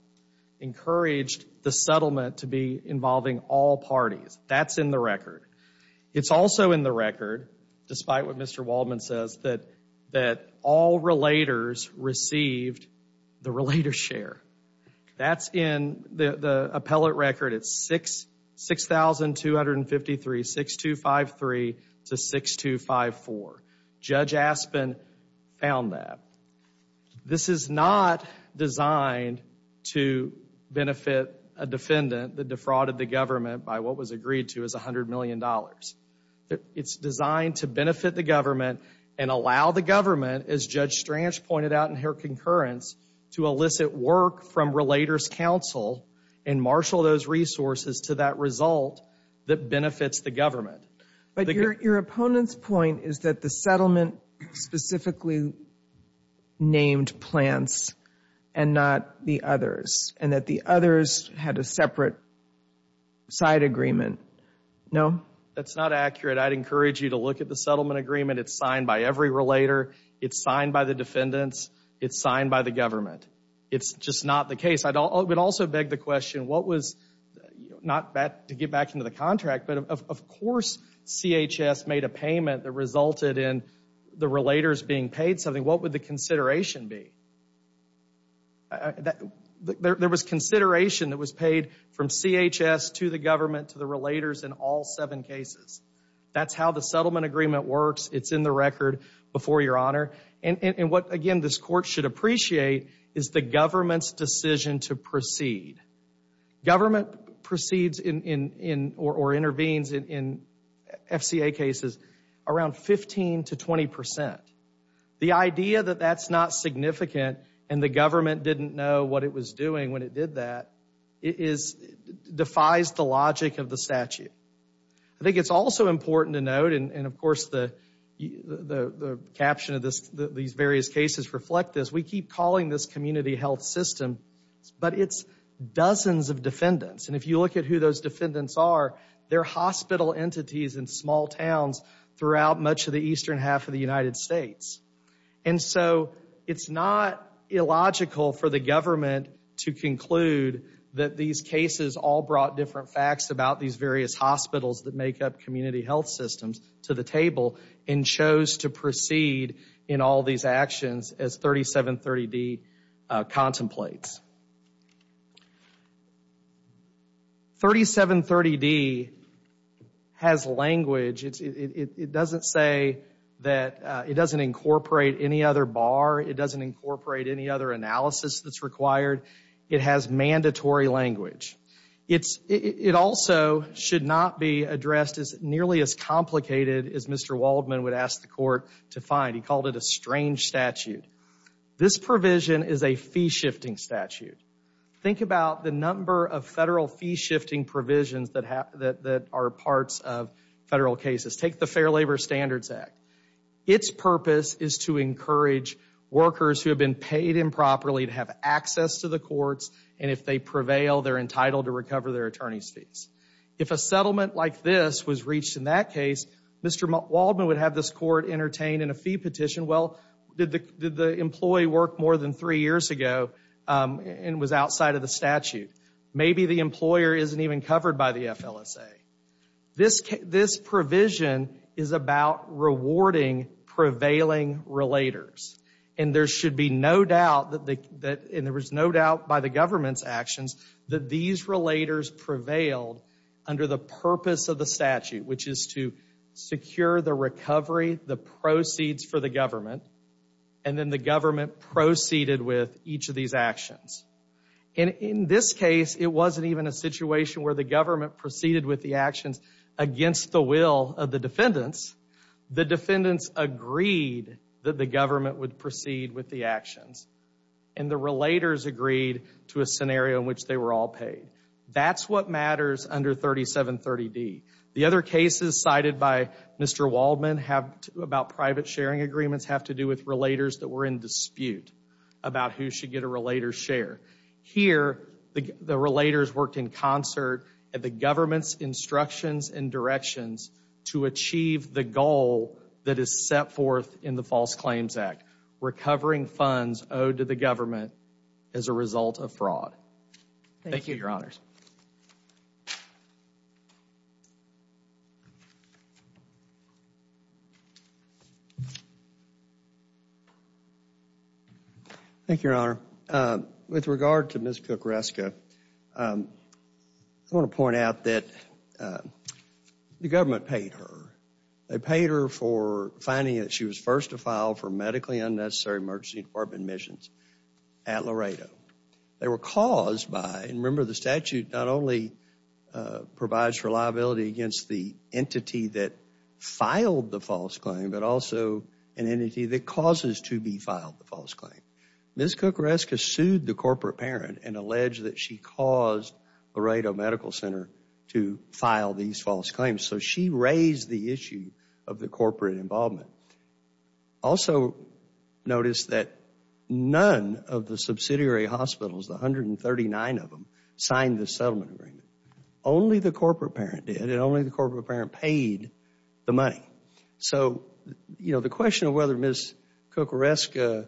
encouraged the settlement to be involving all parties. That's in the record. It's also in the record, despite what Mr. Waldman says, that all relators received the relator's share. That's in the appellate record. It's 6253 to 6254. Judge Aspen found that. This is not designed to benefit a defendant that defrauded the government by what was agreed to as $100 million. It's designed to benefit the government and allow the government, as Judge Stranch pointed out in her concurrence, to elicit work from relator's counsel and marshal those resources to that result that benefits the government. But your opponent's point is that the settlement specifically named plants and not the others and that the others had a separate side agreement. No? That's not accurate. I'd encourage you to look at the settlement agreement. It's signed by every relator. It's signed by the defendants. It's signed by the government. It's just not the case. I would also beg the question, what was, not to get back into the contract, but of course CHS made a payment that resulted in the relators being paid something. What would the consideration be? There was consideration that was paid from CHS to the government, to the relators in all seven cases. That's how the settlement agreement works. It's in the record before your honor. And what, again, this court should appreciate is the government's decision to proceed. Government proceeds or intervenes in FCA cases around 15 to 20 percent. The idea that that's not significant and the government didn't know what it was doing when it did that defies the logic of the statute. I think it's also important to note, and of course the caption of these various cases reflect this, we keep calling this community health system, but it's dozens of defendants. And if you look at who those defendants are, they're hospital entities in small towns throughout much of the eastern half of the United States. And so it's not illogical for the government to conclude that these cases all brought different facts about these various hospitals that make up community health systems to the table and chose to proceed in all these actions as 3730D contemplates. 3730D has language, it doesn't say that, it doesn't incorporate any other bar, it doesn't incorporate any other analysis that's required. It has mandatory language. It also should not be addressed as nearly as complicated as Mr. Waldman would ask the court to find. He called it a strange statute. This provision is a fee-shifting statute. Think about the number of federal fee-shifting provisions that are parts of federal cases. Take the Fair Labor Standards Act. Its purpose is to encourage workers who have been paid improperly to have access to the to recover their attorney's fees. If a settlement like this was reached in that case, Mr. Waldman would have this court entertained in a fee petition, well, did the employee work more than three years ago and was outside of the statute? Maybe the employer isn't even covered by the FLSA. This provision is about rewarding prevailing relators. And there should be no doubt that, and there was no doubt by the government's actions, that these relators prevailed under the purpose of the statute, which is to secure the recovery, the proceeds for the government, and then the government proceeded with each of these actions. And in this case, it wasn't even a situation where the government proceeded with the actions against the will of the defendants. The defendants agreed that the government would proceed with the actions. And the relators agreed to a scenario in which they were all paid. That's what matters under 3730D. The other cases cited by Mr. Waldman about private sharing agreements have to do with relators that were in dispute about who should get a relator's share. Here, the relators worked in concert at the government's instructions and directions to the government as a result of fraud. Thank you, Your Honors. Thank you, Your Honor. With regard to Ms. Kukreska, I want to point out that the government paid her. They paid her for finding that she was first to file for medically unnecessary emergency department admissions at Laredo. They were caused by, and remember the statute not only provides for liability against the entity that filed the false claim, but also an entity that causes to be filed the false claim. Ms. Kukreska sued the corporate parent and alleged that she caused Laredo Medical Center to file these false claims. So she raised the issue of the corporate involvement. Also, notice that none of the subsidiary hospitals, the 139 of them, signed the settlement agreement. Only the corporate parent did, and only the corporate parent paid the money. So, you know, the question of whether Ms. Kukreska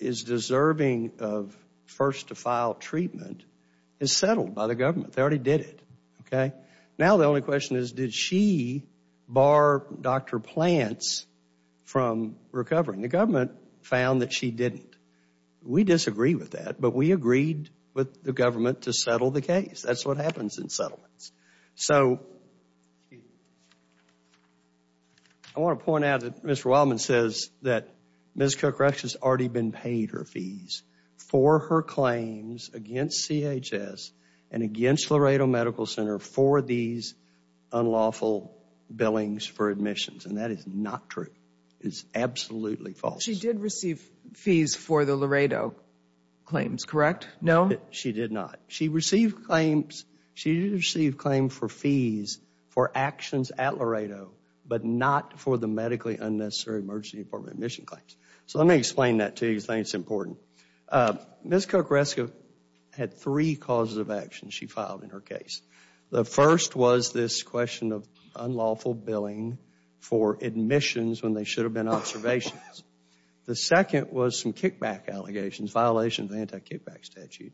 is deserving of first to file treatment is settled by the government. They already did it, okay? Now the only question is, did she bar Dr. Plants from recovering? The government found that she didn't. We disagree with that, but we agreed with the government to settle the case. That's what happens in settlements. So I want to point out that Mr. Wildman says that Ms. Kukreska has already been paid her unlawful billings for admissions, and that is not true. It's absolutely false. She did receive fees for the Laredo claims, correct? No, she did not. She received claims, she did receive claims for fees for actions at Laredo, but not for the medically unnecessary emergency department admission claims. So let me explain that to you because I think it's important. Ms. Kukreska had three causes of action she filed in her case. The first was this question of unlawful billing for admissions when they should have been observations. The second was some kickback allegations, violations of the anti-kickback statute.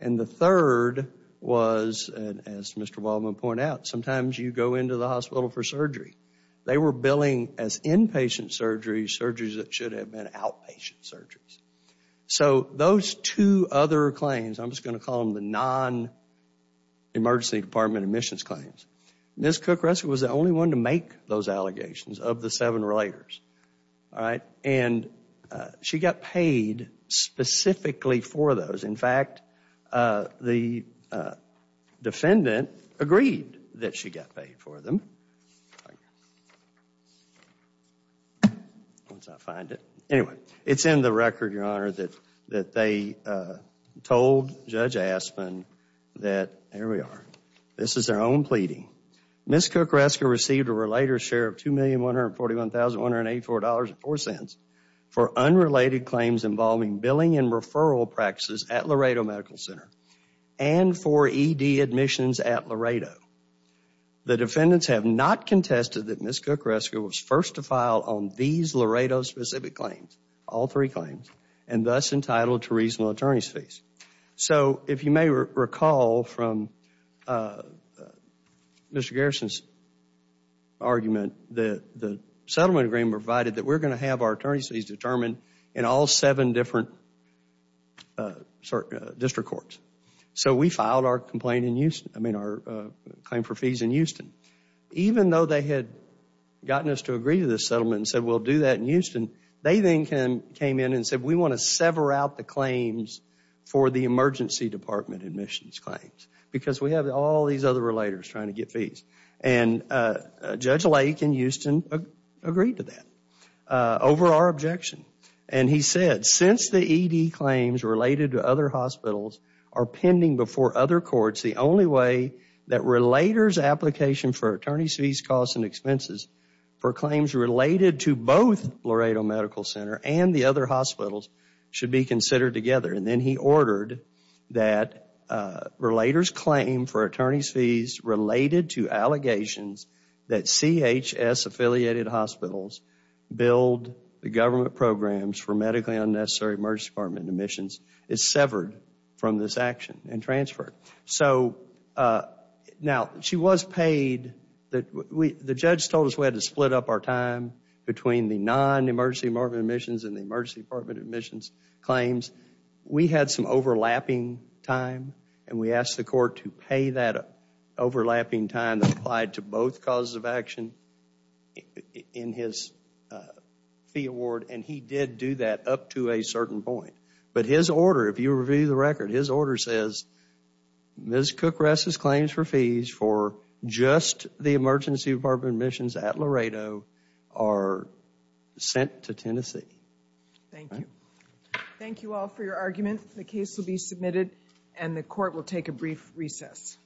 And the third was, as Mr. Wildman pointed out, sometimes you go into the hospital for surgery. They were billing as inpatient surgery, surgeries that should have been outpatient surgeries. So those two other claims, I'm just going to call them the non-emergency department admissions claims. Ms. Kukreska was the only one to make those allegations of the seven relators, all right? And she got paid specifically for those. In fact, the defendant agreed that she got paid for them. Once I find it. Anyway, it's in the record, Your Honor, that they told Judge Aspin that, here we are, this is their own pleading. Ms. Kukreska received a relator's share of $2,141,184.04 for unrelated claims involving billing and referral practices at Laredo Medical Center and for ED admissions at Laredo. The defendants have not contested that Ms. Kukreska was first to file on these Laredo specific claims, all three claims, and thus entitled to reasonable attorney's fees. So if you may recall from Mr. Garrison's argument, the settlement agreement provided that we're going to have our attorney's fees determined in all seven different district courts. So we filed our complaint in Houston, I mean, our claim for fees in Houston. Even though they had gotten us to agree to this settlement and said, we'll do that in Houston, they then came in and said, we want to sever out the claims for the emergency department admissions claims because we have all these other relators trying to get fees. And Judge Lake in Houston agreed to that over our objection. And he said, since the ED claims related to other hospitals are pending before other courts, the only way that relators' application for attorney's fees, costs, and expenses for claims related to both Laredo Medical Center and the other hospitals should be considered together. And then he ordered that relators' claim for attorney's fees related to allegations that CHS-affiliated hospitals build the government programs for medically unnecessary emergency department admissions is severed from this action and transferred. So now, she was paid. The judge told us we had to split up our time between the non-emergency department admissions and the emergency department admissions claims. We had some overlapping time, and we asked the court to pay that overlapping time that applied to both causes of action in his fee award. And he did do that up to a certain point. But his order, if you review the record, his order says Ms. Cook-Ress' claims for fees for just the emergency department admissions at Laredo are sent to Tennessee. Thank you. Thank you all for your argument. The case will be submitted, and the court will take a brief recess.